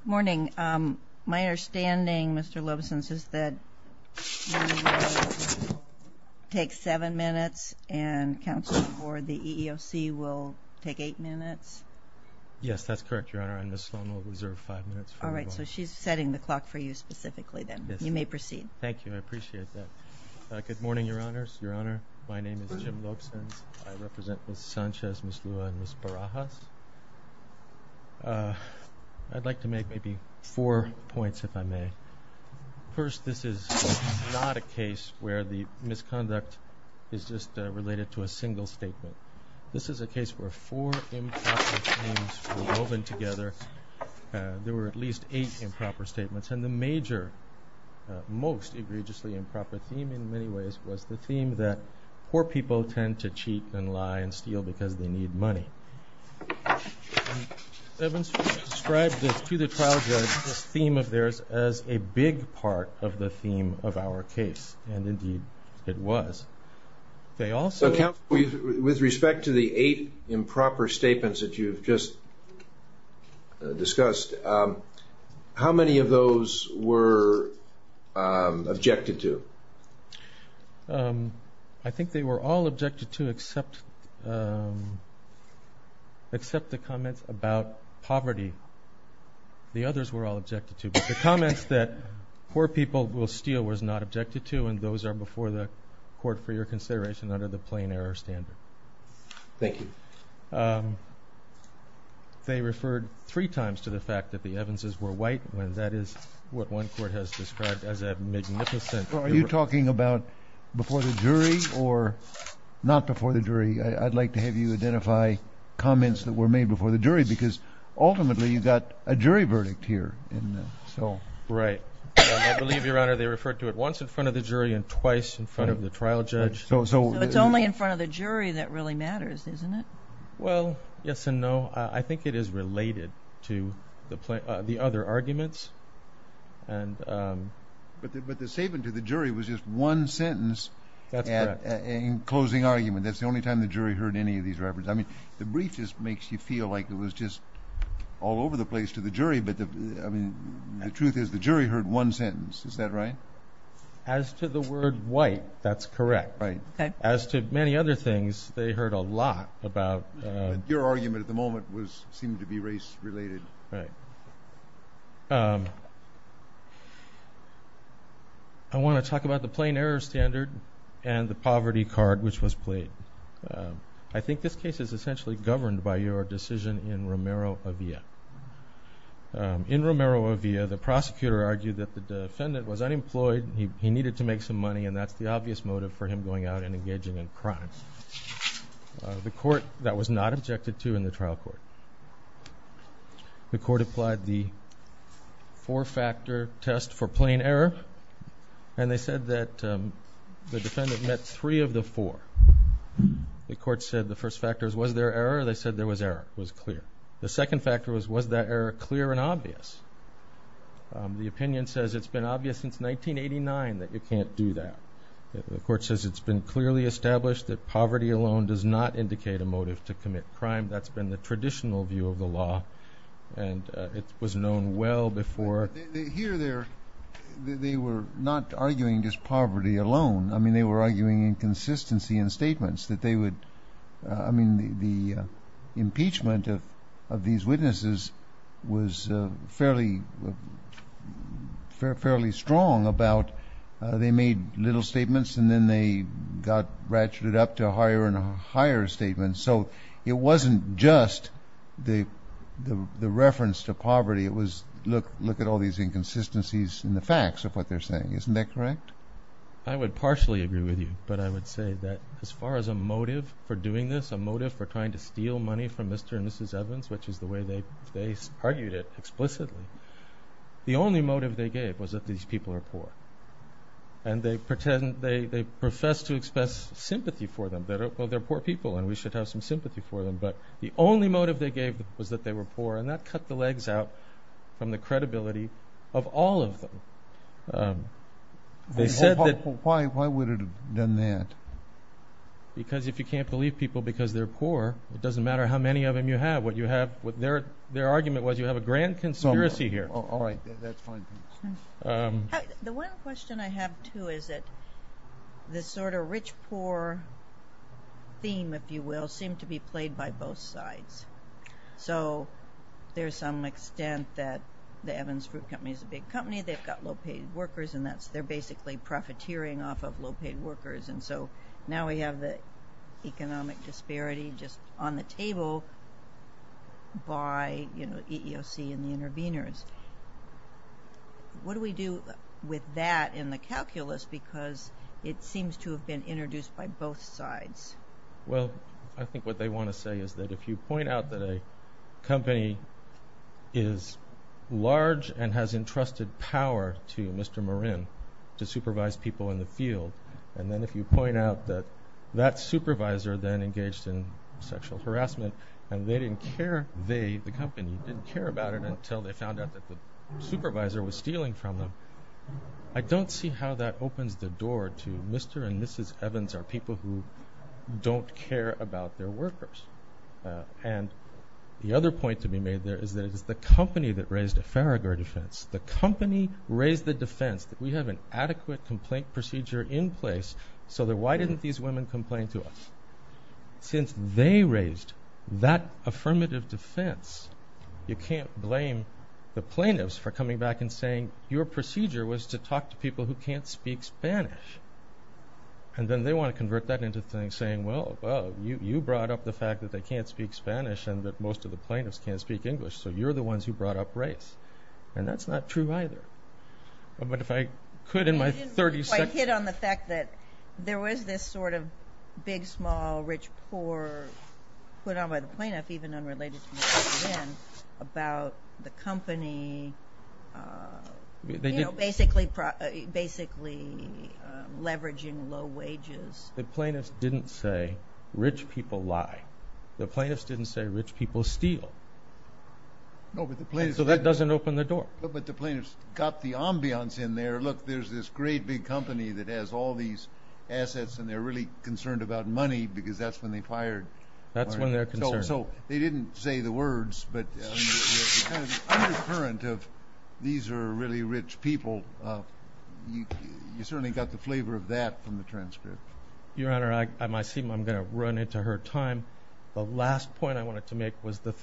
Good morning. My understanding, Mr. Lobeson, is that you will take seven minutes and counsel for the EEOC will take eight minutes? Yes, that's correct, Your Honor, and Ms. Sloan will reserve five minutes for me. All right, so she's setting the clock for you specifically then. You may proceed. Thank you. I appreciate that. Good morning, Your Honors. Your Honor, my name is Jim Lobeson. I represent Ms. Sanchez, Ms. Lua, and Ms. Barajas. I'd like to make maybe four points, if I may. First, this is not a case where the misconduct is just related to a single statement. This is a case where four improper themes were woven together. There were at least eight improper statements, and the major, most egregiously improper theme in many ways was the theme that poor people tend to cheat and lie and steal because they need money. Mr. Evans Fruit described to the trial judge this theme of theirs as a big part of the theme of our case, and indeed it was. With respect to the eight improper statements that you've just discussed, how many of those were objected to? I think they were all objected to except the comments about poverty. The others were all objected to, but the comments that poor people will steal was not objected to, and those are before the court for your consideration under the plain error standard. Thank you. They referred three times to the fact that the Evanses were white, and that is what one court has described as a magnificent error. Are you talking about before the jury or not before the jury? I'd like to have you identify comments that were made before the jury because ultimately you got a jury verdict here. Right. I believe, Your Honor, they referred to it once in front of the jury and twice in front of the trial judge. So it's only in front of the jury that really matters, isn't it? Well, yes and no. I think it is related to the other arguments. But the statement to the jury was just one sentence in closing argument. That's the only time the jury heard any of these reference. I mean, the brief just makes you feel like it was just all over the place to the jury, but the truth is the jury heard one sentence. Is that right? As to the word white, that's correct. As to many other things, they heard a lot about... Your argument at the moment seemed to be race related. Right. I want to talk about the plain error standard and the poverty card which was In Romero-Avia, the prosecutor argued that the defendant was unemployed, he needed to make some money and that's the obvious motive for him going out and engaging in crime. The court, that was not objected to in the trial court. The court applied the four-factor test for plain error, and they said that the defendant met three of the four. The court said the first factors was there error? They said there was error. It was clear. The second factor was, was that error clear and obvious? The opinion says it's been obvious since 1989 that you can't do that. The court says it's been clearly established that poverty alone does not indicate a motive to commit crime. That's been the traditional view of the law, and it was known well before. Here, they were not arguing just poverty alone. I mean, they were arguing inconsistency in statements that they would, I mean, the impeachment of these witnesses was fairly strong about, they made little statements and then they got ratcheted up to higher and higher statements. So, it wasn't just the reference to poverty. It was, look at all these inconsistencies in the facts of what they're saying. Isn't that correct? I would partially agree with you, but I would say that as far as a motive for doing this, a motive for trying to steal money from Mr. and Mrs. Evans, which is the way they, they argued it explicitly. The only motive they gave was that these people are poor, and they pretend, they, they profess to express sympathy for them. They're, well, they're poor people, and we should have some sympathy for them, but the only motive they gave was that they were poor, and that cut the legs out from the credibility of all of them. They said that... Why, why would it have done that? Because if you can't believe people because they're poor, it doesn't matter how many of them you have. What you have, what their, their argument was, you have a grand conspiracy here. All right, that's fine. The one question I have, too, is that this sort of rich-poor theme, if you will, seemed to be played by both sides. So, there's some extent that the Evans Fruit Company is a big company. They've got low-paid workers, and that's, they're basically profiteering off of low-paid workers. And so, now we have the economic disparity just on the table by, you know, EEOC and the interveners. What do we do with that in the calculus? Because it seems to have been introduced by both sides. Well, I think what they want to say is that if you point out that a company is large and has that supervisor then engaged in sexual harassment, and they didn't care, they, the company, didn't care about it until they found out that the supervisor was stealing from them. I don't see how that opens the door to Mr. and Mrs. Evans are people who don't care about their workers. And the other point to be made there is that it is the company that raised a Faragher defense. The company raised the defense that we have an adequate complaint procedure in place so that why didn't these women complain to us? Since they raised that affirmative defense, you can't blame the plaintiffs for coming back and saying your procedure was to talk to people who can't speak Spanish. And then they want to convert that into things saying, well, you brought up the fact that they can't speak Spanish and that most of the plaintiffs can't speak English, so you're the ones who brought up either. But if I could in my 30 seconds... You didn't really quite hit on the fact that there was this sort of big, small, rich, poor put on by the plaintiff, even unrelated to Mrs. Evans, about the company basically, basically leveraging low wages. The plaintiffs didn't say rich people lie. The plaintiffs didn't say rich people steal. No, but the plaintiffs... So that doesn't open the door. But the plaintiffs got the ambiance in there. Look, there's this great big company that has all these assets and they're really concerned about money because that's when they fired. That's when they're concerned. So they didn't say the words, but the undercurrent of these are really rich people, you certainly got the flavor of that from the transcript. Your Honor, I might seem I'm gonna run into her time. The last point I wanted to make was the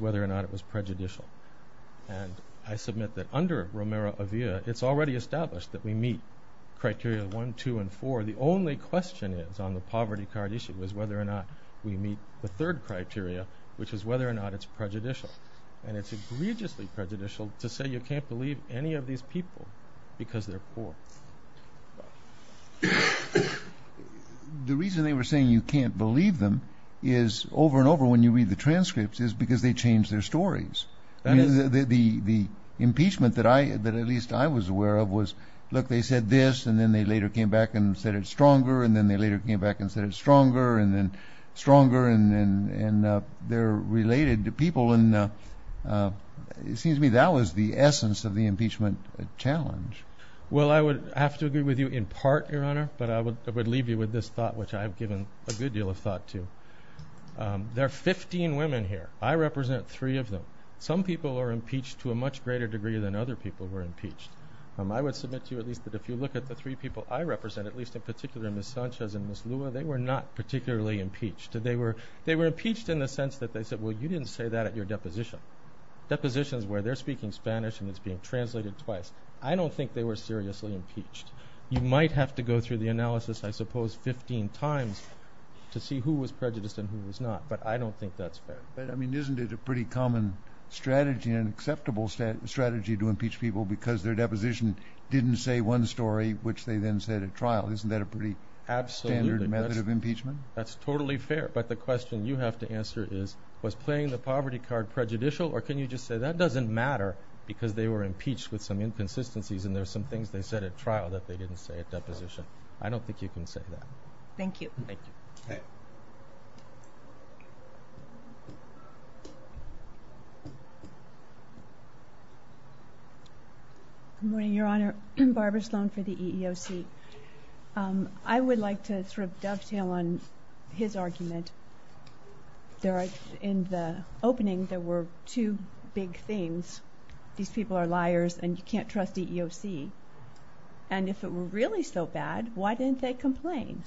whether or not it was prejudicial. And I submit that under Romero-Avia, it's already established that we meet criteria one, two, and four. The only question is on the poverty card issue is whether or not we meet the third criteria, which is whether or not it's prejudicial. And it's egregiously prejudicial to say you can't believe any of these people because they're poor. The reason they were saying you can't believe them is over and over when you read the transcripts is because they change their stories. The impeachment that at least I was aware of was, look, they said this and then they later came back and said it's stronger and then they later came back and said it's stronger and then stronger and they're related to people. And it seems to me that was the essence of the impeachment challenge. Well, I would have to agree with you in part, Your Honor, but I would leave you with this thought, which I've given a good deal of thought to. There are 15 women here. I represent three of them. Some people are impeached to a much greater degree than other people were impeached. I would submit to you at least that if you look at the three people I represent, at least in particular Ms. Sanchez and Ms. Lua, they were not particularly impeached. They were impeached in the sense that they said, well, you didn't say that at your deposition. Depositions where they're speaking Spanish and it's being translated twice. I don't think they were seriously impeached. You might have to go through the analysis, I suppose, 15 times to see who was prejudiced and who was not. But I don't think that's fair. But I mean, isn't it a pretty common strategy and acceptable strategy to impeach people because their deposition didn't say one story, which they then said at trial? Isn't that a pretty standard method of impeachment? That's totally fair. But the question you have to answer is, was playing the poverty card prejudicial? Or can you just say that doesn't matter because they were impeached with some inconsistencies and there's some things they said at trial that they didn't say at deposition? I don't think you can say that. Thank you. Good morning, Your Honor. Barbara Sloan for the EEOC. I would like to sort of dovetail on his argument. In the opening, there were two big themes. These people are liars and you can't trust EEOC. And if it were really so bad, why didn't they complain?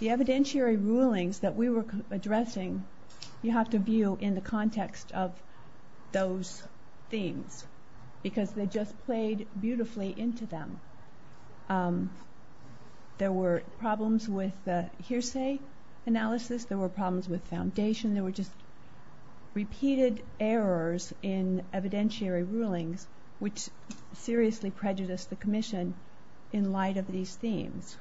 The evidentiary rulings that we were addressing, you have to view in the context of those themes because they just played beautifully into them. There were problems with hearsay analysis. There were problems with foundation. There were just repeated errors in evidentiary rulings, which seriously prejudiced the Commission in light of these themes.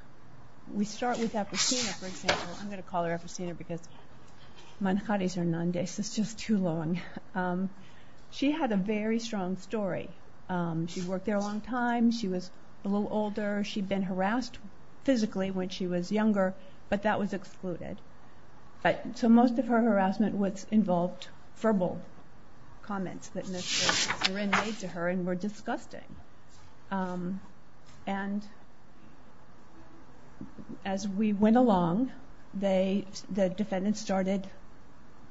We start with Apristina, for example. I'm going to call her Apristina because Manjari's Hernandez is just too long. She had a very strong story. She worked there a long time. She was a little older. She'd been harassed physically when she was younger, but that was excluded. So most of her harassment involved verbal comments that Mr. Nguyen made to her and were disgusting. And as we went along, the defendants started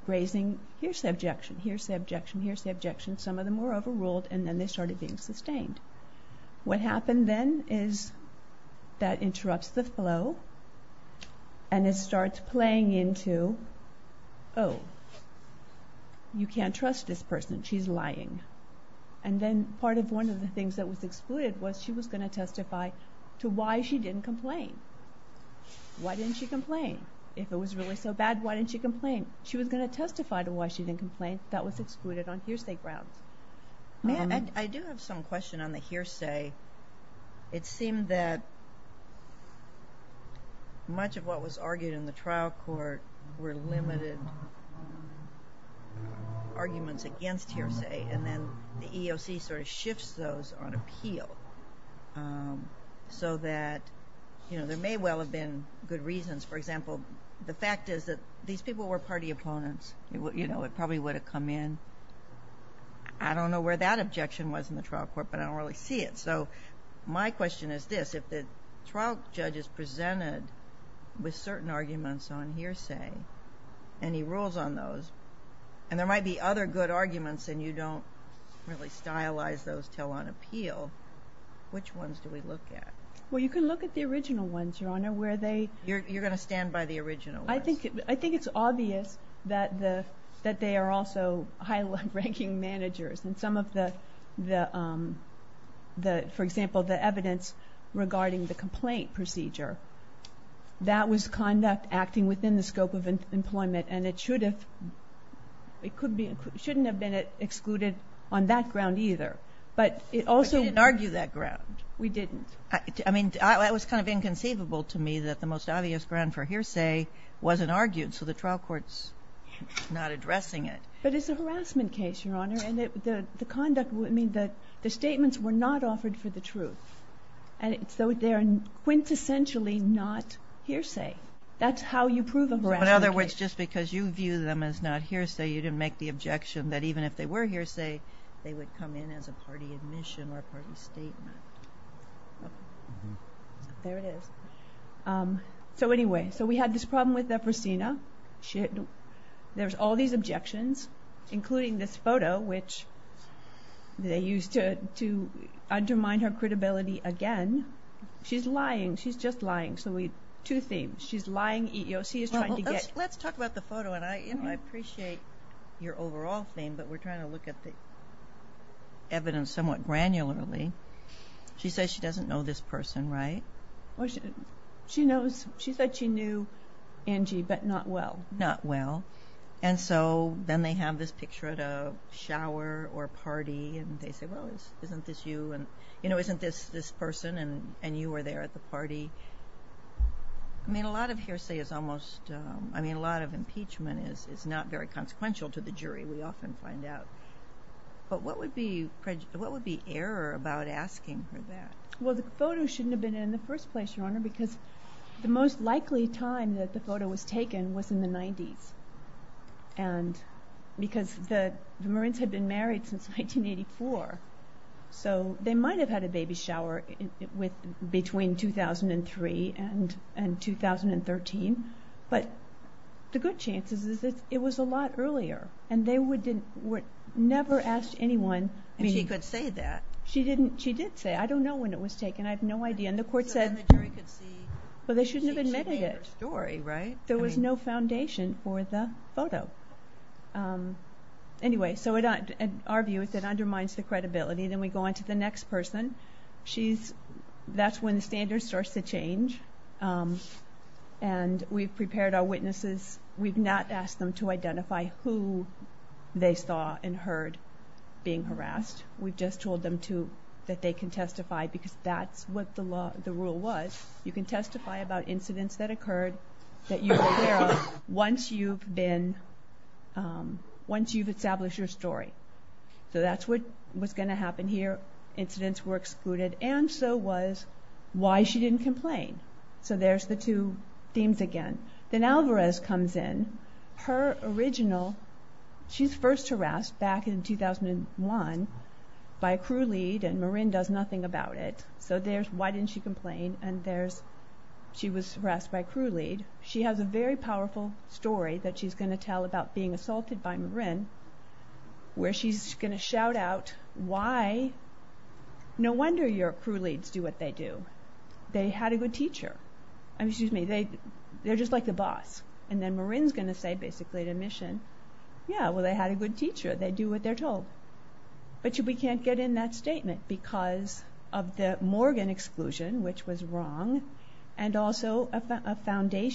raising hearsay objection, hearsay objection, hearsay objection. Some of them were overruled and then they started being sustained. What happened then is that interrupts the flow and it starts playing into, oh, you can't trust this person. She's lying. And then part of one of the things that was excluded was she was going to testify to why she didn't complain. Why didn't she complain? If it was really so bad, why didn't she complain? She was going to testify to why she didn't complain. That was excluded on hearsay grounds. I do have some question on the hearsay. It seemed that much of what was argued in the trial court were limited arguments against hearsay, and then the EOC sort of shifts those on appeal so that, you know, there may well have been good reasons. For example, the fact is that these people were party opponents. You know, it probably would have come in. I don't know where that objection was in the trial court, but I don't really see it. So my question is this. If the trial judge is presented with certain arguments on hearsay, any rules on those, and there might be other good arguments and you don't really stylize those until on appeal, which ones do we look at? Well, you can look at the original ones, Your Honor, where they... You're going to stand by the original ones? I think it's obvious that they are also high-ranking managers, and some of the... for example, the evidence regarding the complaint procedure, that was conduct acting within the scope of employment, and it shouldn't have been excluded on that ground either, but it also... But you didn't argue that ground? We didn't. I mean, it was kind of inconceivable to me that the most obvious ground for hearsay wasn't argued, so the trial court's not addressing it. But it's a harassment case, Your Honor, and the conduct would mean that the statements were not offered for the truth. And so they're quintessentially not hearsay. That's how you prove a harassment case. But in other words, just because you view them as not hearsay, you didn't make the objection that even if they were hearsay, they would come in as a party admission or a party statement. There it is. So anyway, so we had this problem with Efrasina. There's all these objections, including this photo, which they used to undermine her credibility again. She's lying. She's just lying. So we... two themes. She's lying. Let's talk about the photo, and I appreciate your overall theme, but we're trying to look at the evidence somewhat granularly. She says she doesn't know this person, right? She said she knew Angie, but not well. And so then they have this picture at a shower or a party, and they say, well, isn't this you? And, you know, isn't this this person? And you were there at the party. I mean, a lot of hearsay is almost... I mean, a lot of impeachment is not very consequential to the jury, we often find out. But what would be error about asking her that? Well, the photo shouldn't have been in the first place, Your Honor, because the most likely time that the photo was taken was in the 90s. And because the Marines had been married since 1984, so they might have had a baby shower between 2003 and 2013. But the good chances is that it was a lot earlier, and they never asked anyone... And she could say that. She didn't. She did say, I don't know when it was taken. I have no idea. And the court said... So then the jury could see... Well, they shouldn't have admitted it. She made her story, right? There was no foundation for the photo. Anyway, so in our view, it undermines the credibility. Then we go on to the next person. She's... that's when the standard starts to change. And we've prepared our witnesses. We've not asked them to identify who they saw and heard being harassed. We've just told them to... that they can testify, because that's what the rule was. You can testify about incidents that occurred, that you were aware of, once you've been... once you've established your story. So that's what was going to happen here. Incidents were excluded, and so was why she didn't complain. So there's the two themes again. Then Alvarez comes in. Her original... she's first harassed back in 2001 by a crew lead, and Marin does nothing about it. So there's why didn't she complain, and there's she was harassed by a crew lead. She has a very powerful story that she's going to tell about being assaulted by Marin, where she's going to shout out, why... no wonder your crew leads do what they do. They had a good teacher. I mean, excuse me, they're just like the boss. And then Marin's going to say, basically at admission, yeah, well they had a good teacher. They do what they're told. But we can't get in that statement, because of the Morgan exclusion, which was wrong. Well, the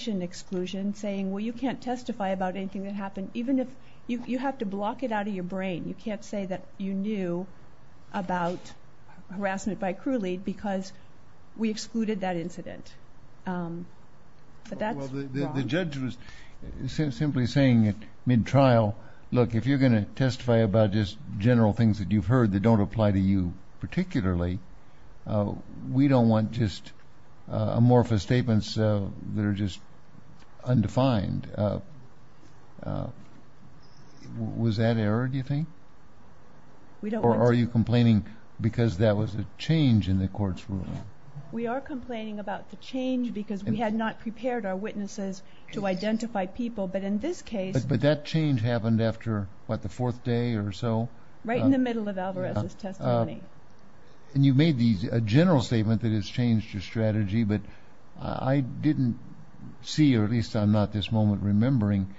judge was simply saying at mid-trial, look, if you're going to testify about just general things that you've heard that don't apply to you particularly, we don't want just amorphous statements that are just undefined. Was that error, do you think? We don't want... Or are you complaining because that was a change in the court's ruling? We are complaining about the change because we had not prepared our witnesses to identify people. But in this case... But that change happened after, what, the fourth day or so? Right in the middle of Alvarez's testimony. And you made a general statement that has changed your strategy, but I didn't see, or at least I'm not at this moment remembering,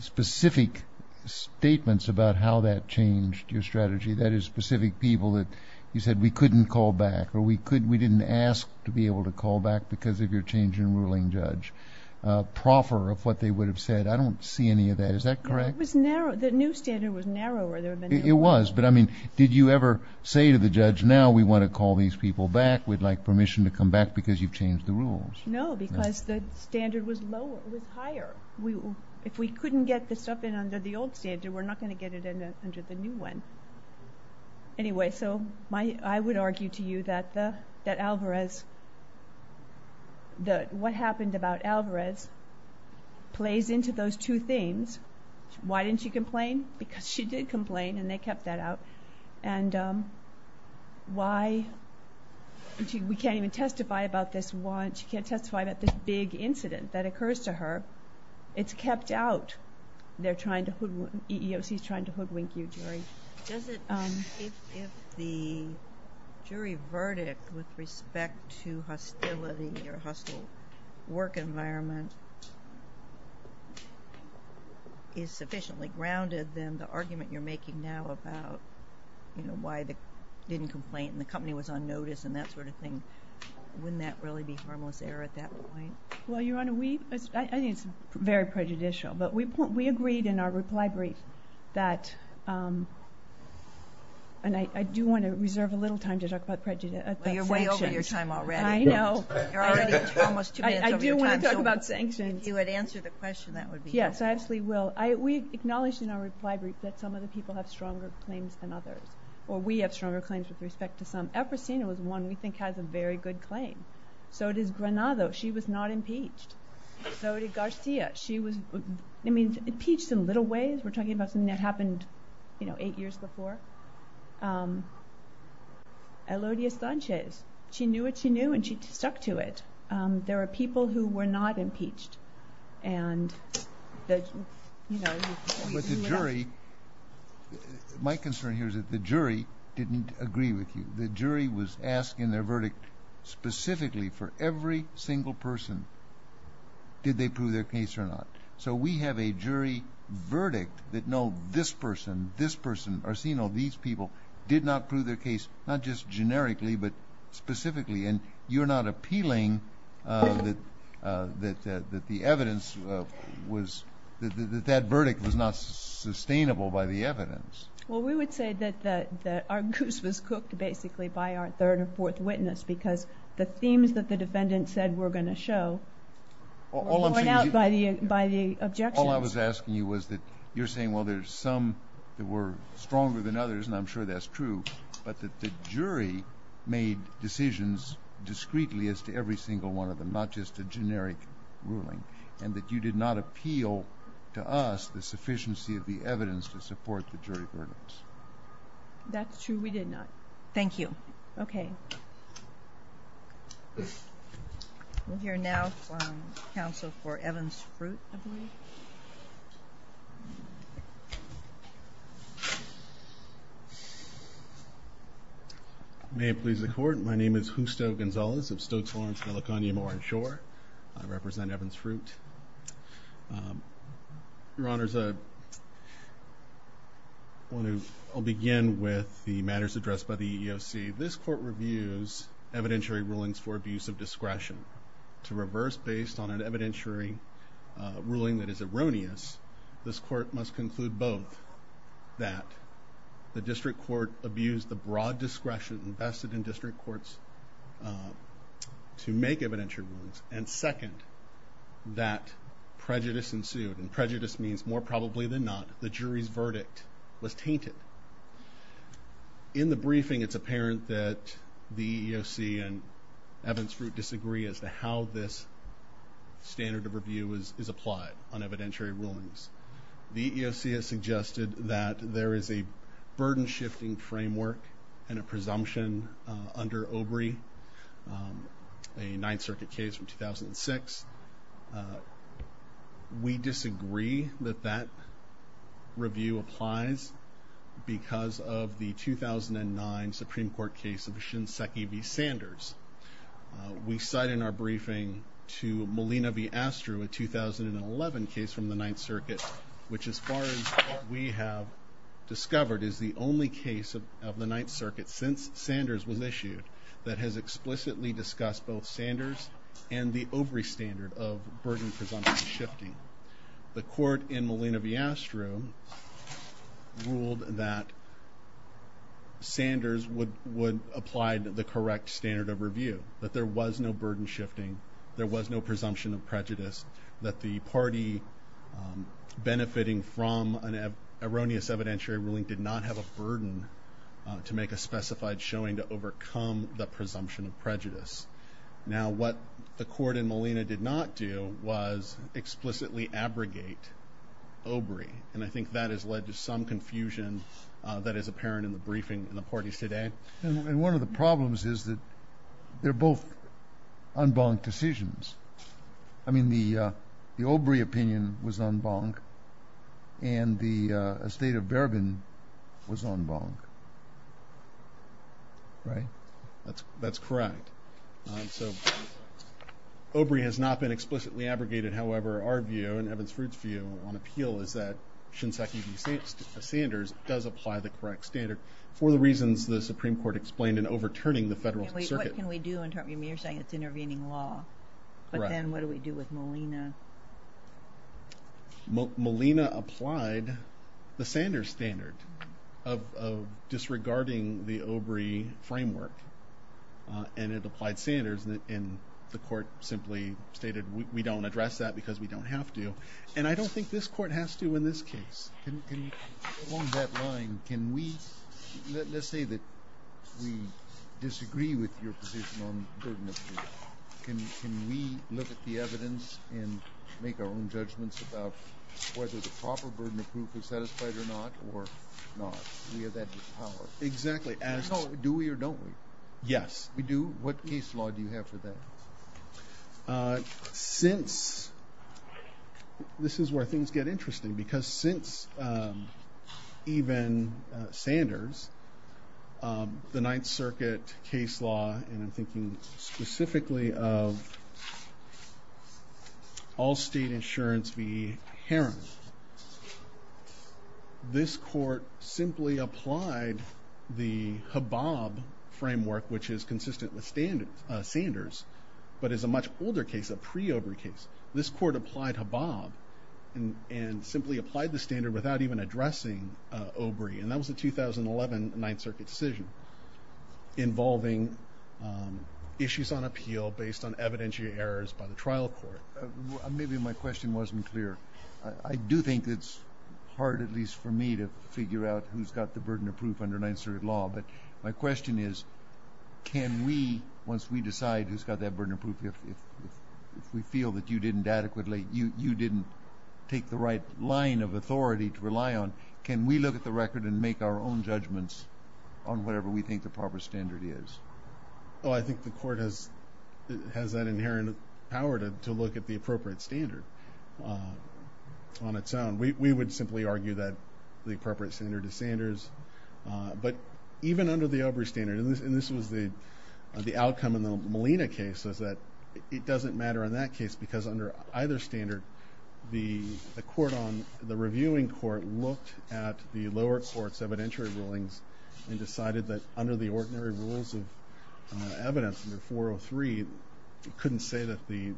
specific statements about how that changed your strategy. That is, specific people that you said, we couldn't call back, or we didn't ask to be able to call back because of your change in ruling, Judge. Proffer of what they would have said. I don't see any of that. Is that correct? It was narrow. The new standard was narrower. It was, but I mean, did you ever say to the judge, now we want to call these people back, we'd like permission to come back because you've changed the rules? No, because the standard was lower, it was higher. If we couldn't get this stuff in under the old standard, we're not going to get it in under the new one. Anyway, so I would argue to you that Alvarez, what happened about Alvarez, plays into those two things. Why didn't she complain? Because she did complain, and they kept that out. And why, we can't even testify about this one, she can't testify about this big incident that occurs to her. It's kept out. They're trying to, EEOC's trying to hoodwink you, Jury. If the jury verdict with respect to hostility or hostile work environment is sufficiently grounded, then the argument you're making now about why they didn't complain and the company was on notice and that sort of thing, wouldn't that really be harmless error at that point? Well, Your Honor, we, I think it's very prejudicial, but we agreed in our reply brief that, and I do want to reserve a little time to talk about sanctions. Well, you're way over your time already. I know. You're already almost two minutes over your time. I do want to talk about sanctions. If you had answered the question, that would be helpful. Yes, I absolutely will. We acknowledged in our reply brief that some of the people have stronger claims than others, or we have stronger claims with respect to some. The only person I've ever seen was one we think has a very good claim. So does Granado. She was not impeached. So did Garcia. She was, I mean, impeached in little ways. We're talking about something that happened, you know, eight years before. Elodia Sanchez. She knew what she knew, and she stuck to it. There are people who were not impeached. And, you know... But the jury, my concern here is that the jury didn't agree with you. The jury was asking their verdict specifically for every single person, did they prove their case or not. So we have a jury verdict that no, this person, this person, Arsino, these people, did not prove their case, not just generically, but specifically. And you're not appealing that the evidence was, that that verdict was not sustainable by the evidence. Well, we would say that our goose was cooked, basically, by our third or fourth witness, because the themes that the defendant said were going to show were worn out by the objections. All I was asking you was that you're saying, well, there's some that were stronger than others, and I'm sure that's true, but that the jury made decisions discreetly as to every single one of them, not just a generic ruling, and that you did not appeal to us the sufficiency of the evidence to support the jury verdicts. That's true. We did not. Thank you. Okay. Thank you. We'll hear now from counsel for Evans-Fruit, I believe. May it please the court, my name is Justo Gonzalez of Stokes-Lawrence, California, Moorish Shore. I represent Evans-Fruit. Your Honors, I'll begin with the matters addressed by the EEOC. Firstly, this court reviews evidentiary rulings for abuse of discretion. To reverse based on an evidentiary ruling that is erroneous, this court must conclude both that the district court abused the broad discretion invested in district courts to make evidentiary rulings, and second, that prejudice ensued, and prejudice means more probably than not, the jury's verdict was tainted. In the briefing, it's apparent that the EEOC and Evans-Fruit disagree as to how this standard of review is applied on evidentiary rulings. The EEOC has suggested that there is a burden-shifting framework and a presumption under OBRI, a Ninth Circuit case from 2006. We disagree that that review applies because of the 2009 Supreme Court case of Shinseki v. Sanders. We cite in our briefing to Molina v. Astru, a 2011 case from the Ninth Circuit, which as far as we have discovered is the only case of the Ninth Circuit since Sanders was issued that has explicitly discussed both Sanders and the OBRI standard of burden-presumption shifting. The court in Molina v. Astru ruled that Sanders would apply the correct standard of review, that there was no burden-shifting, there was no presumption of prejudice, that the party benefiting from an erroneous evidentiary ruling did not have a burden to make a specified showing to overcome the presumption of prejudice. Now what the court in Molina did not do was explicitly abrogate OBRI, and I think that has led to some confusion that is apparent in the briefing in the parties today. And one of the problems is that they're both en banc decisions. I mean the OBRI opinion was en banc, and the estate of Bourbon was en banc. Right? That's correct. So OBRI has not been explicitly abrogated. However, our view and Evans-Fruit's view on appeal is that Shinseki v. Sanders does apply the correct standard for the reasons the Supreme Court explained in overturning the Federal Circuit. What can we do in terms of intervening law? But then what do we do with Molina? Molina applied the Sanders standard of disregarding the OBRI framework, and it applied Sanders, and the court simply stated we don't address that because we don't have to. And I don't think this court has to in this case. Along that line, let's say that we disagree with your position on burden of proof. Can we look at the evidence and make our own judgments about whether the proper burden of proof is satisfied or not, or not? We have that power. Exactly. Do we or don't we? Yes. We do? What case law do you have for that? This is where things get interesting, because since even Sanders, the Ninth Circuit case law, and I'm thinking specifically of all state insurance v. Herron, this court simply applied the HABOB framework, which is consistent with Sanders, but is a much older case, a pre-OBRI case. This court applied HABOB and simply applied the standard without even addressing OBRI, and that was a 2011 Ninth Circuit decision involving issues on appeal based on evidentiary errors by the trial court. Maybe my question wasn't clear. I do think it's hard, at least for me, to figure out who's got the burden of proof under Ninth Circuit law, but my question is, can we, once we decide who's got that burden of proof, if we feel that you didn't adequately, you didn't take the right line of authority to rely on, can we look at the record and make our own judgments on whatever we think the proper standard is? Well, I think the court has that inherent power to look at the appropriate standard on its own. We would simply argue that the appropriate standard is Sanders, but even under the OBRI standard, and this was the outcome in the Molina case, is that it doesn't matter in that case, because under either standard, the court on, the reviewing court, looked at the lower court's evidentiary rulings and decided that under the ordinary rules of the court, evidence under 403 couldn't say that the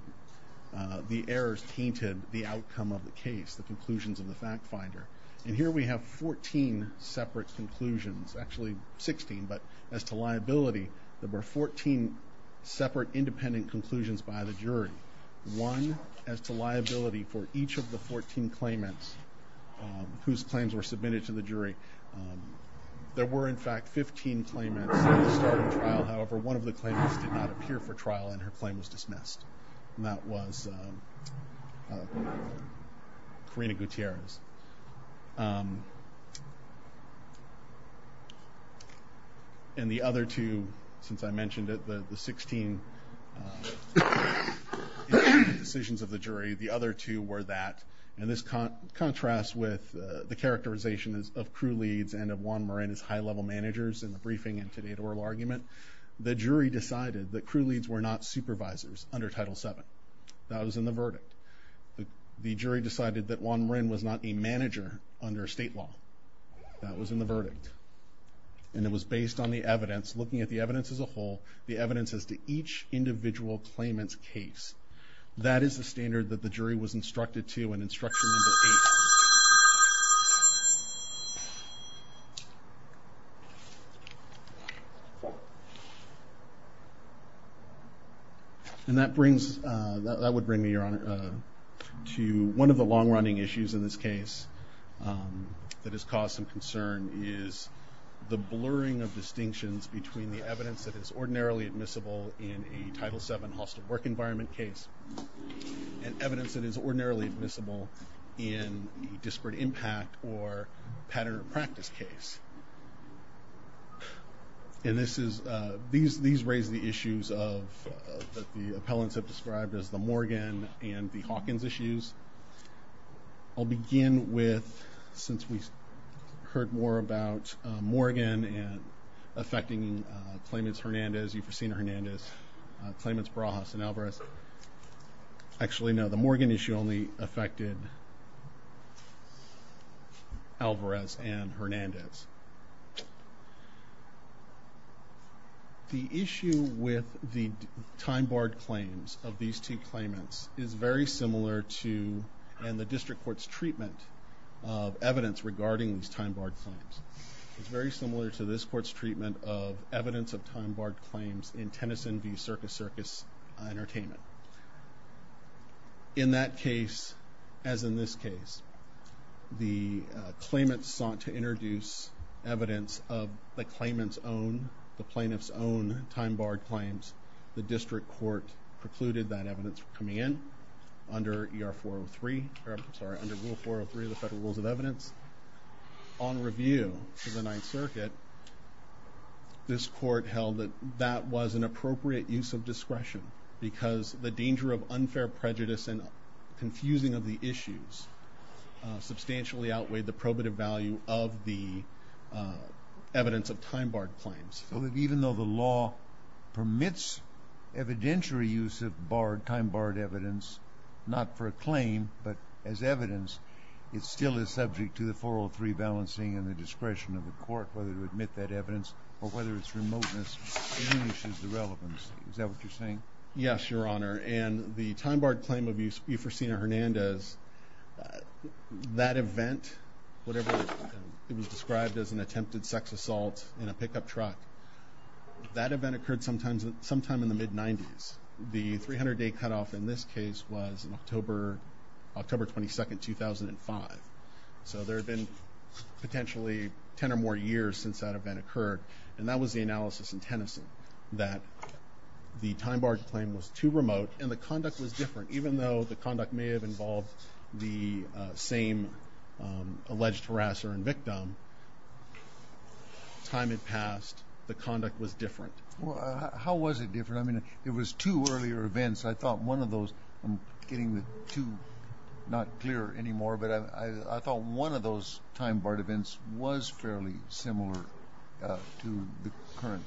errors tainted the outcome of the case, the conclusions of the fact finder. And here we have 14 separate conclusions, actually 16, but as to liability, there were 14 separate independent conclusions by the jury. One, as to liability for each of the 14 claimants whose claims were submitted to the jury, there were in fact 15 claimants at the start of the trial, however, one of the claimants did not appear for trial and her claim was dismissed, and that was Karina Gutierrez. And the other two, since I mentioned it, the 16 decisions of the jury, the other two were that, in this contrast with the characterization of crew leads and of Juan Marin as high-level managers in the briefing and today's oral argument, the jury decided that crew leads were not supervisors under Title VII. That was in the verdict. The jury decided that Juan Marin was not a manager under state law. That was in the verdict. And it was based on the evidence, looking at the evidence as a whole, the evidence as to each individual claimant's case. That is the standard that the jury was instructed to in instruction number 8. And that brings, that would bring me, Your Honor, to one of the long-running issues in this case that has caused some concern is the blurring of distinctions between the evidence that is ordinarily admissible in a Title VII hostile work environment case and evidence that is ordinarily admissible in a disparate impact or pattern of practice case. And this is, these raise the issues of, that the appellants have described as the Morgan and the Hawkins issues. I'll begin with, since we've heard more about Morgan and affecting claimants Hernandez, you've seen Hernandez, claimants Barajas and Alvarez. Actually, no, the Morgan issue only affected Alvarez and Hernandez. The issue with the time-barred claims of these two claimants is very similar to, and the district court's treatment of evidence regarding these time-barred claims is very similar to this court's treatment of evidence of time-barred claims in Tennyson v. Circus Circus Entertainment. In that case, as in this case, the claimants sought to introduce evidence of the claimant's own, the plaintiff's own time-barred claims. The district court precluded that evidence from coming in under ER 403, or I'm sorry, under Rule 403 of the Federal Rules of Evidence. On review for the Ninth Circuit, this court held that that was an appropriate use of discretion because the danger of unfair prejudice and confusing of the issues substantially outweighed the probative value of the evidence of time-barred claims. So even though the law permits evidentiary use of time-barred evidence, not for a claim, but as evidence, it still is subject to the 403 balancing and the discretion of the court whether to admit that evidence or whether its remoteness diminishes the relevance. Is that what you're saying? Yes, Your Honor. And the time-barred claim of Euphorcina Hernandez, that event, whatever it was described as an attempted sex assault in a pickup truck, that event occurred sometime in the mid-90s. The 300-day cutoff in this case was October 22, 2005. So there had been potentially 10 or more years since that event occurred, and that was the analysis in Tennyson, that the time-barred claim was too remote and the conduct was different. Even though the conduct may have involved the same alleged harasser and victim, time had passed, the conduct was different. How was it different? I mean, it was two earlier events. I thought one of those, I'm getting the two not clear anymore, but I thought one of those time-barred events was fairly similar to the current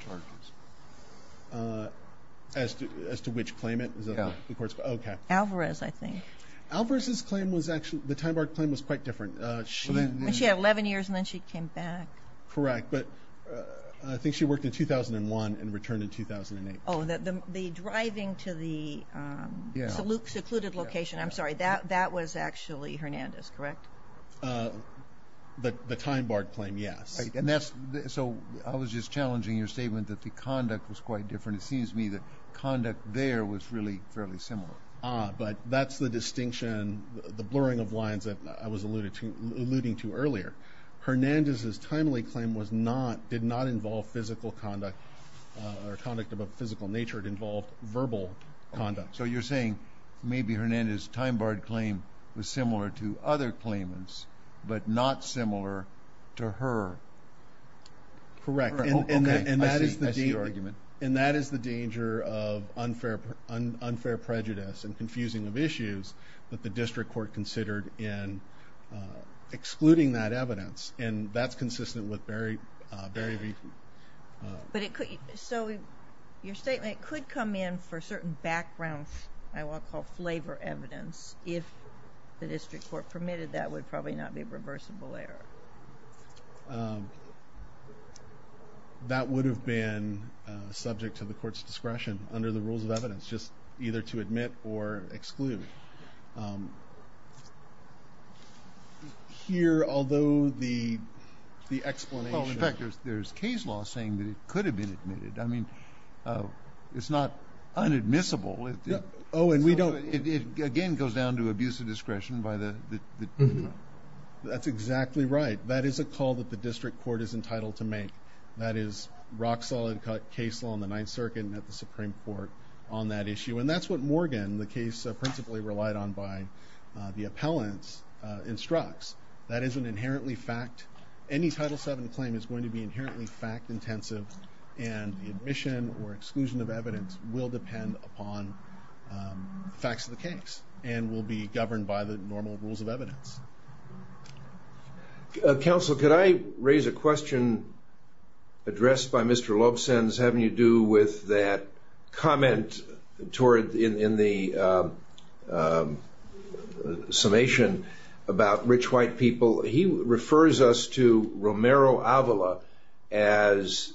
charges. As to which claimant? Alvarez, I think. Alvarez's claim was actually, the time-barred claim was quite different. She had 11 years and then she came back. Correct, but I think she worked in 2001 and returned in 2008. Oh, the driving to the secluded location, I'm sorry, that was actually Hernandez, correct? The time-barred claim, yes. So I was just challenging your statement that the conduct was quite different. It seems to me that conduct there was really fairly similar. Ah, but that's the distinction, the blurring of lines that I was alluding to earlier. Hernandez's timely claim did not involve physical conduct or conduct of a physical nature. It involved verbal conduct. So you're saying maybe Hernandez's time-barred claim was similar to other claimants, but not similar to her. Correct. Okay, I see your argument. And that is the danger of unfair prejudice and confusing of issues that the district court considered in excluding that evidence, and that's consistent with Barry V. But it could, so your statement could come in for certain background, I will call flavor evidence, if the district court permitted that would probably not be a reversible error. That would have been subject to the court's discretion under the rules of evidence, just either to admit or exclude. Here, although the explanation... Oh, in fact, there's case law saying that it could have been admitted. I mean, it's not unadmissible. Oh, and we don't... It again goes down to abuse of discretion by the district court. That's exactly right. That is a call that the district court is entitled to make. That is rock-solid case law in the Ninth Circuit and at the Supreme Court on that issue. And that's what Morgan, the case principally relied on by the appellants, instructs. That isn't inherently fact. Any Title VII claim is going to be inherently fact-intensive, and the admission or exclusion of evidence will depend upon facts of the case and will be governed by the normal rules of evidence. Counsel, could I raise a question addressed by Mr. Loebsenz having to do with that comment in the summation about rich white people? He refers us to Romero Avila as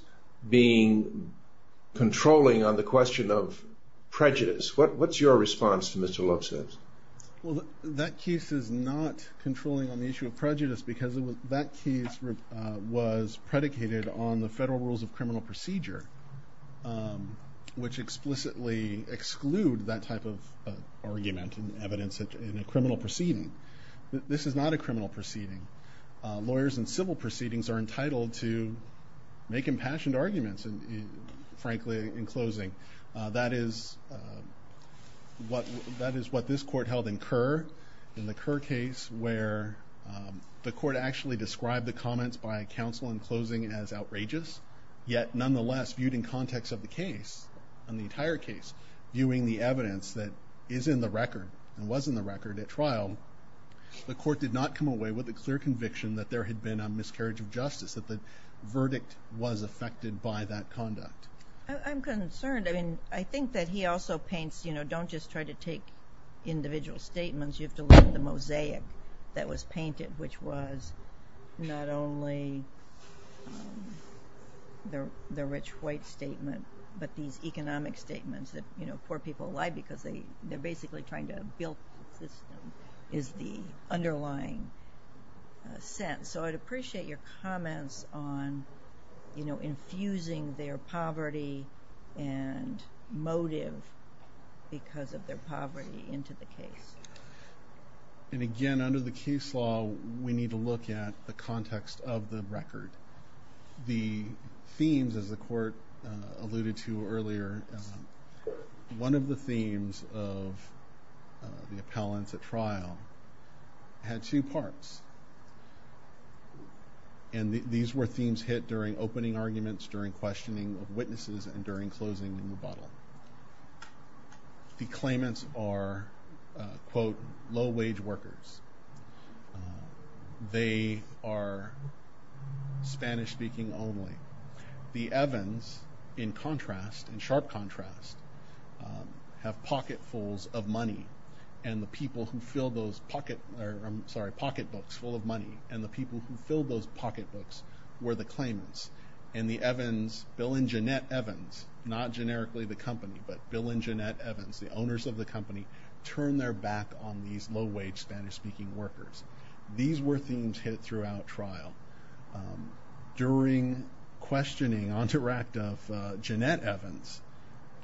being controlling on the question of prejudice. What's your response to Mr. Loebsenz? Well, that case is not controlling on the issue of prejudice because that case was predicated on the federal rules of criminal procedure, which explicitly exclude that type of argument and evidence in a criminal proceeding. This is not a criminal proceeding. Lawyers in civil proceedings are entitled to make impassioned arguments, frankly, in closing. That is what this Court held in Kerr. In the Kerr case, where the Court actually described the comments by counsel in closing as outrageous, yet, nonetheless, viewed in context of the case, in the entire case, viewing the evidence that is in the record and was in the record at trial, the Court did not come away with a clear conviction that there had been a miscarriage of justice, that the verdict was affected by that conduct. I'm concerned. I mean, I think that he also paints, you know, don't just try to take individual statements. You have to look at the mosaic that was painted, which was not only the rich white statement, but these economic statements that, you know, poor people lie because they're basically trying to build the system, is the underlying sense. And so I'd appreciate your comments on, you know, infusing their poverty and motive because of their poverty into the case. And again, under the case law, we need to look at the context of the record. The themes, as the Court alluded to earlier, one of the themes of the appellants at trial had two parts. And these were themes hit during opening arguments, during questioning of witnesses, and during closing rebuttal. The claimants are, quote, low-wage workers. They are Spanish-speaking only. The Evans, in contrast, in sharp contrast, have pocketfuls of money, and the people who fill those pocketbooks full of money, and the people who fill those pocketbooks were the claimants. And the Evans, Bill and Jeanette Evans, not generically the company, but Bill and Jeanette Evans, the owners of the company, turn their back on these low-wage Spanish-speaking workers. These were themes hit throughout trial. During questioning on direct of Jeanette Evans,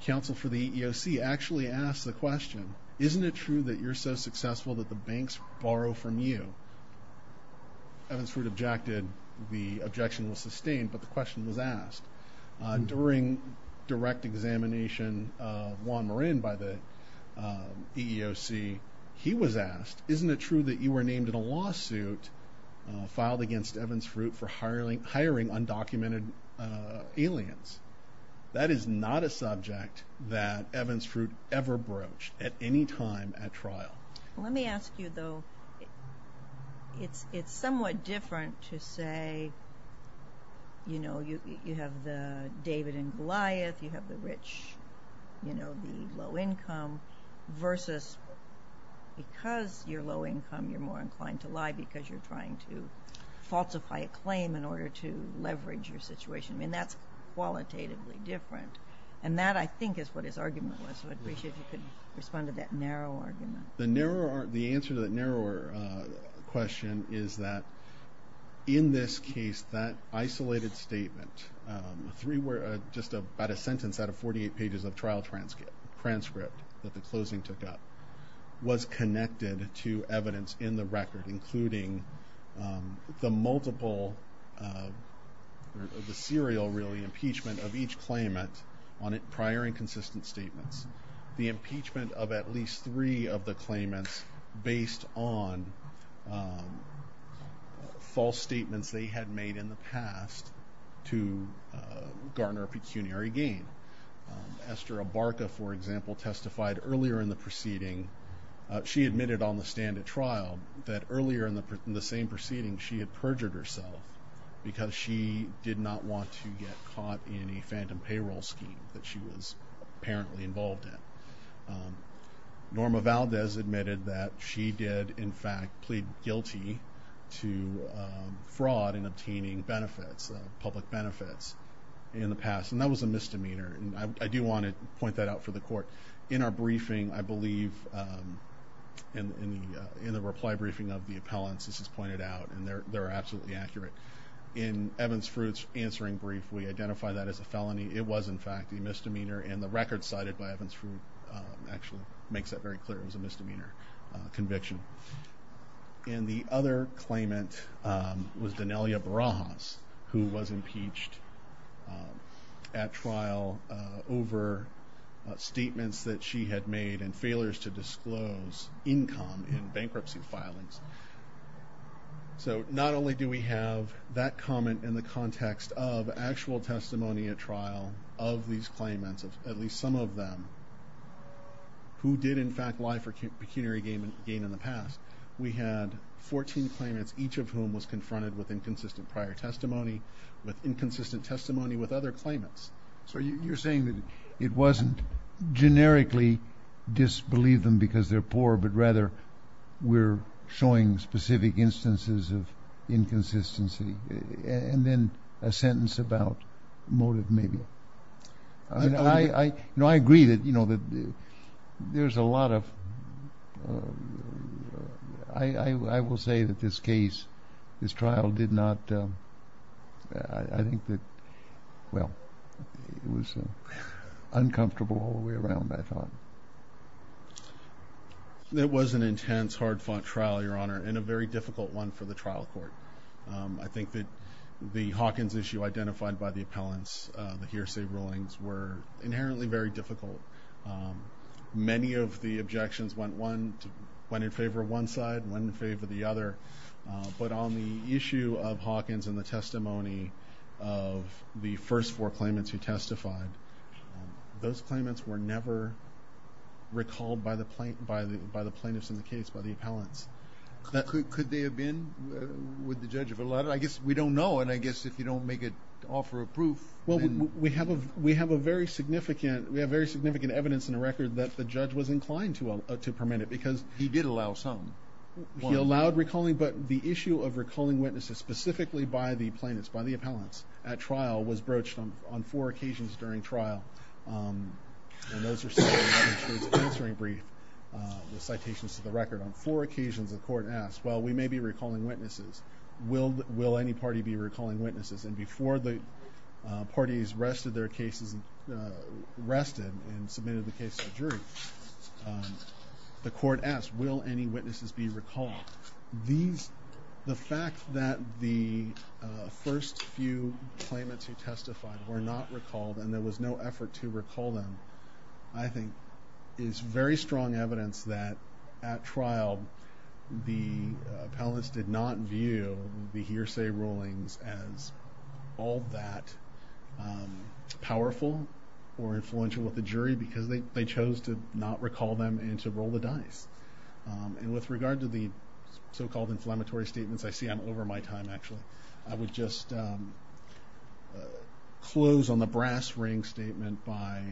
counsel for the EEOC actually asked the question, isn't it true that you're so successful that the banks borrow from you? Evans sort of objected. The objection was sustained, but the question was asked. During direct examination of Juan Marin by the EEOC, he was asked, isn't it true that you were named in a lawsuit filed against Evans Fruit for hiring undocumented aliens? That is not a subject that Evans Fruit ever broached at any time at trial. Let me ask you, though, it's somewhat different to say, you know, you have the David and Goliath, you have the rich, you know, the low-income, versus because you're low-income, you're more inclined to lie because you're trying to falsify a claim in order to leverage your situation. I mean, that's qualitatively different. And that, I think, is what his argument was, so I'd appreciate if you could respond to that narrow argument. The answer to that narrower question is that in this case, that isolated statement, just about a sentence out of 48 pages of trial transcript that the closing took up, was connected to evidence in the record, including the multiple, the serial, really, impeachment of each claimant on prior and consistent statements. The impeachment of at least three of the claimants based on false statements they had made in the past to garner a pecuniary gain. Esther Abarca, for example, testified earlier in the proceeding. She admitted on the stand at trial that earlier in the same proceeding, she had perjured herself because she did not want to get caught in a phantom payroll scheme that she was apparently involved in. Norma Valdez admitted that she did, in fact, plead guilty to fraud in obtaining benefits, public benefits, in the past, and that was a misdemeanor, and I do want to point that out for the court. In our briefing, I believe, in the reply briefing of the appellants, this is pointed out, and they're absolutely accurate. In Evans-Fruit's answering brief, we identify that as a felony. It was, in fact, a misdemeanor, and the record cited by Evans-Fruit actually makes that very clear. It was a misdemeanor conviction. And the other claimant was Donelia Barajas, who was impeached at trial over statements that she had made and failures to disclose income in bankruptcy filings. So not only do we have that comment in the context of actual testimony at trial of these claimants, at least some of them, who did, in fact, lie for pecuniary gain in the past, we had 14 claimants, each of whom was confronted with inconsistent prior testimony, with inconsistent testimony with other claimants. So you're saying that it wasn't generically disbelieve them because they're poor, but rather we're showing specific instances of inconsistency, and then a sentence about motive, maybe. I agree that there's a lot of – I will say that this case, this trial, did not – I think that – well, it was uncomfortable all the way around, I thought. It was an intense, hard-fought trial, Your Honor, and a very difficult one for the trial court. I think that the Hawkins issue identified by the appellants, the hearsay rulings, were inherently very difficult. Many of the objections went one – went in favor of one side, went in favor of the other. But on the issue of Hawkins and the testimony of the first four claimants who testified, those claimants were never recalled by the plaintiffs in the case, by the appellants. Could they have been, would the judge have allowed it? I guess we don't know, and I guess if you don't make it – offer a proof, then – We have a very significant – we have very significant evidence in the record that the judge was inclined to permit it, because – He did allow some. He allowed recalling, but the issue of recalling witnesses specifically by the plaintiffs, by the appellants at trial, was broached on four occasions during trial. And those are citations to the record. On four occasions, the court asked, well, we may be recalling witnesses. Will any party be recalling witnesses? And before the parties rested their cases – rested and submitted the case to a jury, the court asked, will any witnesses be recalled? These – the fact that the first few claimants who testified were not recalled and there was no effort to recall them, I think, is very strong evidence that at trial, the appellants did not view the hearsay rulings as all that powerful or influential with the jury, because they chose to not recall them and to roll the dice. And with regard to the so-called inflammatory statements – I see I'm over my time, actually – I would just close on the brass ring statement by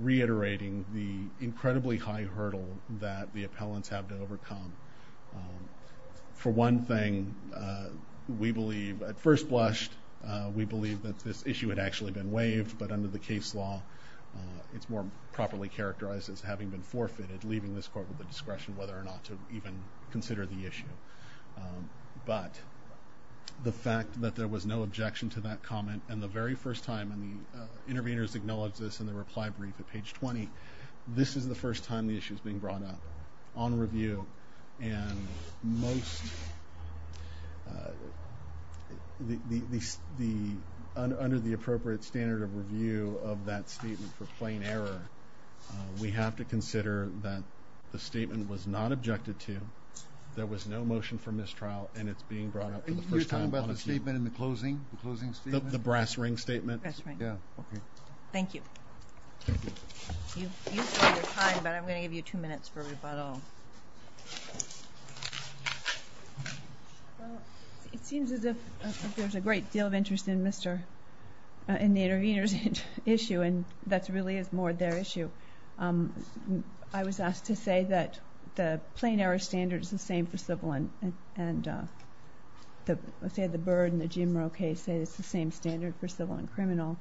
reiterating the incredibly high hurdle that the appellants have to overcome. For one thing, we believe – at first blush, we believe that this issue had actually been waived, but under the case law, it's more properly characterized as having been forfeited, leaving this court with the discretion whether or not to even consider the issue. But the fact that there was no objection to that comment and the very first time – and the interveners acknowledged this in the reply brief at page 20 – this is the first time the issue is being brought up on review, and most – under the appropriate standard of review of that statement for plain error, we have to consider that the statement was not objected to, there was no motion for mistrial, and it's being brought up for the first time on a – You're talking about the statement in the closing statement? The brass ring statement? Brass ring. Yeah, okay. Thank you. Thank you. You've used up your time, but I'm going to give you two minutes for rebuttal. Well, it seems as if there's a great deal of interest in Mr. – in the interveners' issue, and that really is more their issue. I was asked to say that the plain error standard is the same for civil and – and the – let's say the Byrd and the Jim Rowe case say it's the same standard for civil and criminal,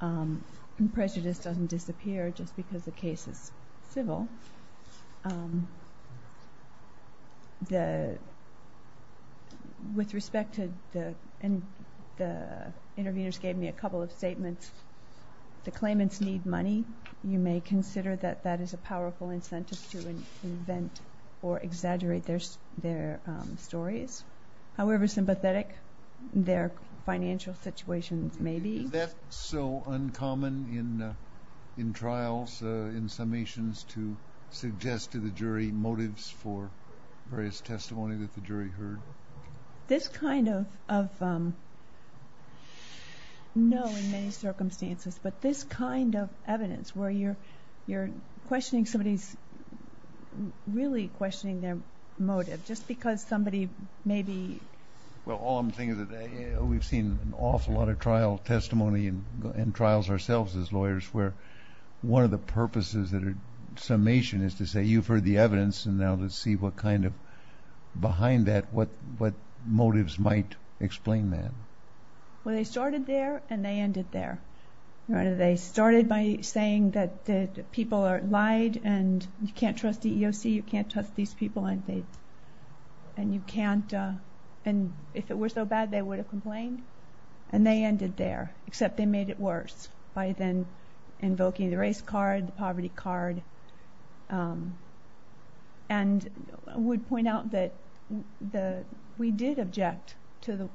and prejudice doesn't disappear just because the case is civil. The – with respect to the – and the interveners gave me a couple of statements. The claimants need money. You may consider that that is a powerful incentive to invent or exaggerate their stories. However sympathetic their financial situation may be. Is that so uncommon in trials, in summations, to suggest to the jury motives for various testimony that the jury heard? This kind of – no, in many circumstances. But this kind of evidence where you're questioning somebody's – really questioning their motive just because somebody maybe – Well, all I'm saying is that we've seen an awful lot of trial testimony and trials ourselves as lawyers where one of the purposes that are – summation is to say you've heard the evidence, and now let's see what kind of – behind that, what motives might explain that. Well, they started there, and they ended there. They started by saying that the people lied, and you can't trust the EEOC, you can't trust these people, and you can't – and if it were so bad, they would have complained. And they ended there, except they made it worse by then invoking the race card, the poverty card. And I would point out that we did object to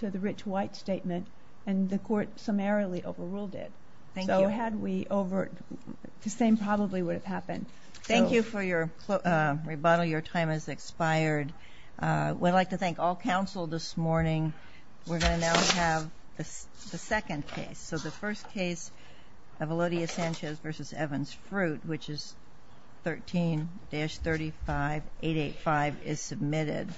the Rich White statement, and the court summarily overruled it. Thank you. So had we over – the same probably would have happened. Thank you for your rebuttal. Your time has expired. We'd like to thank all counsel this morning. We're going to now have the second case. So the first case of Elodia Sanchez v. Evans, Fruit, which is 13-35885, is submitted.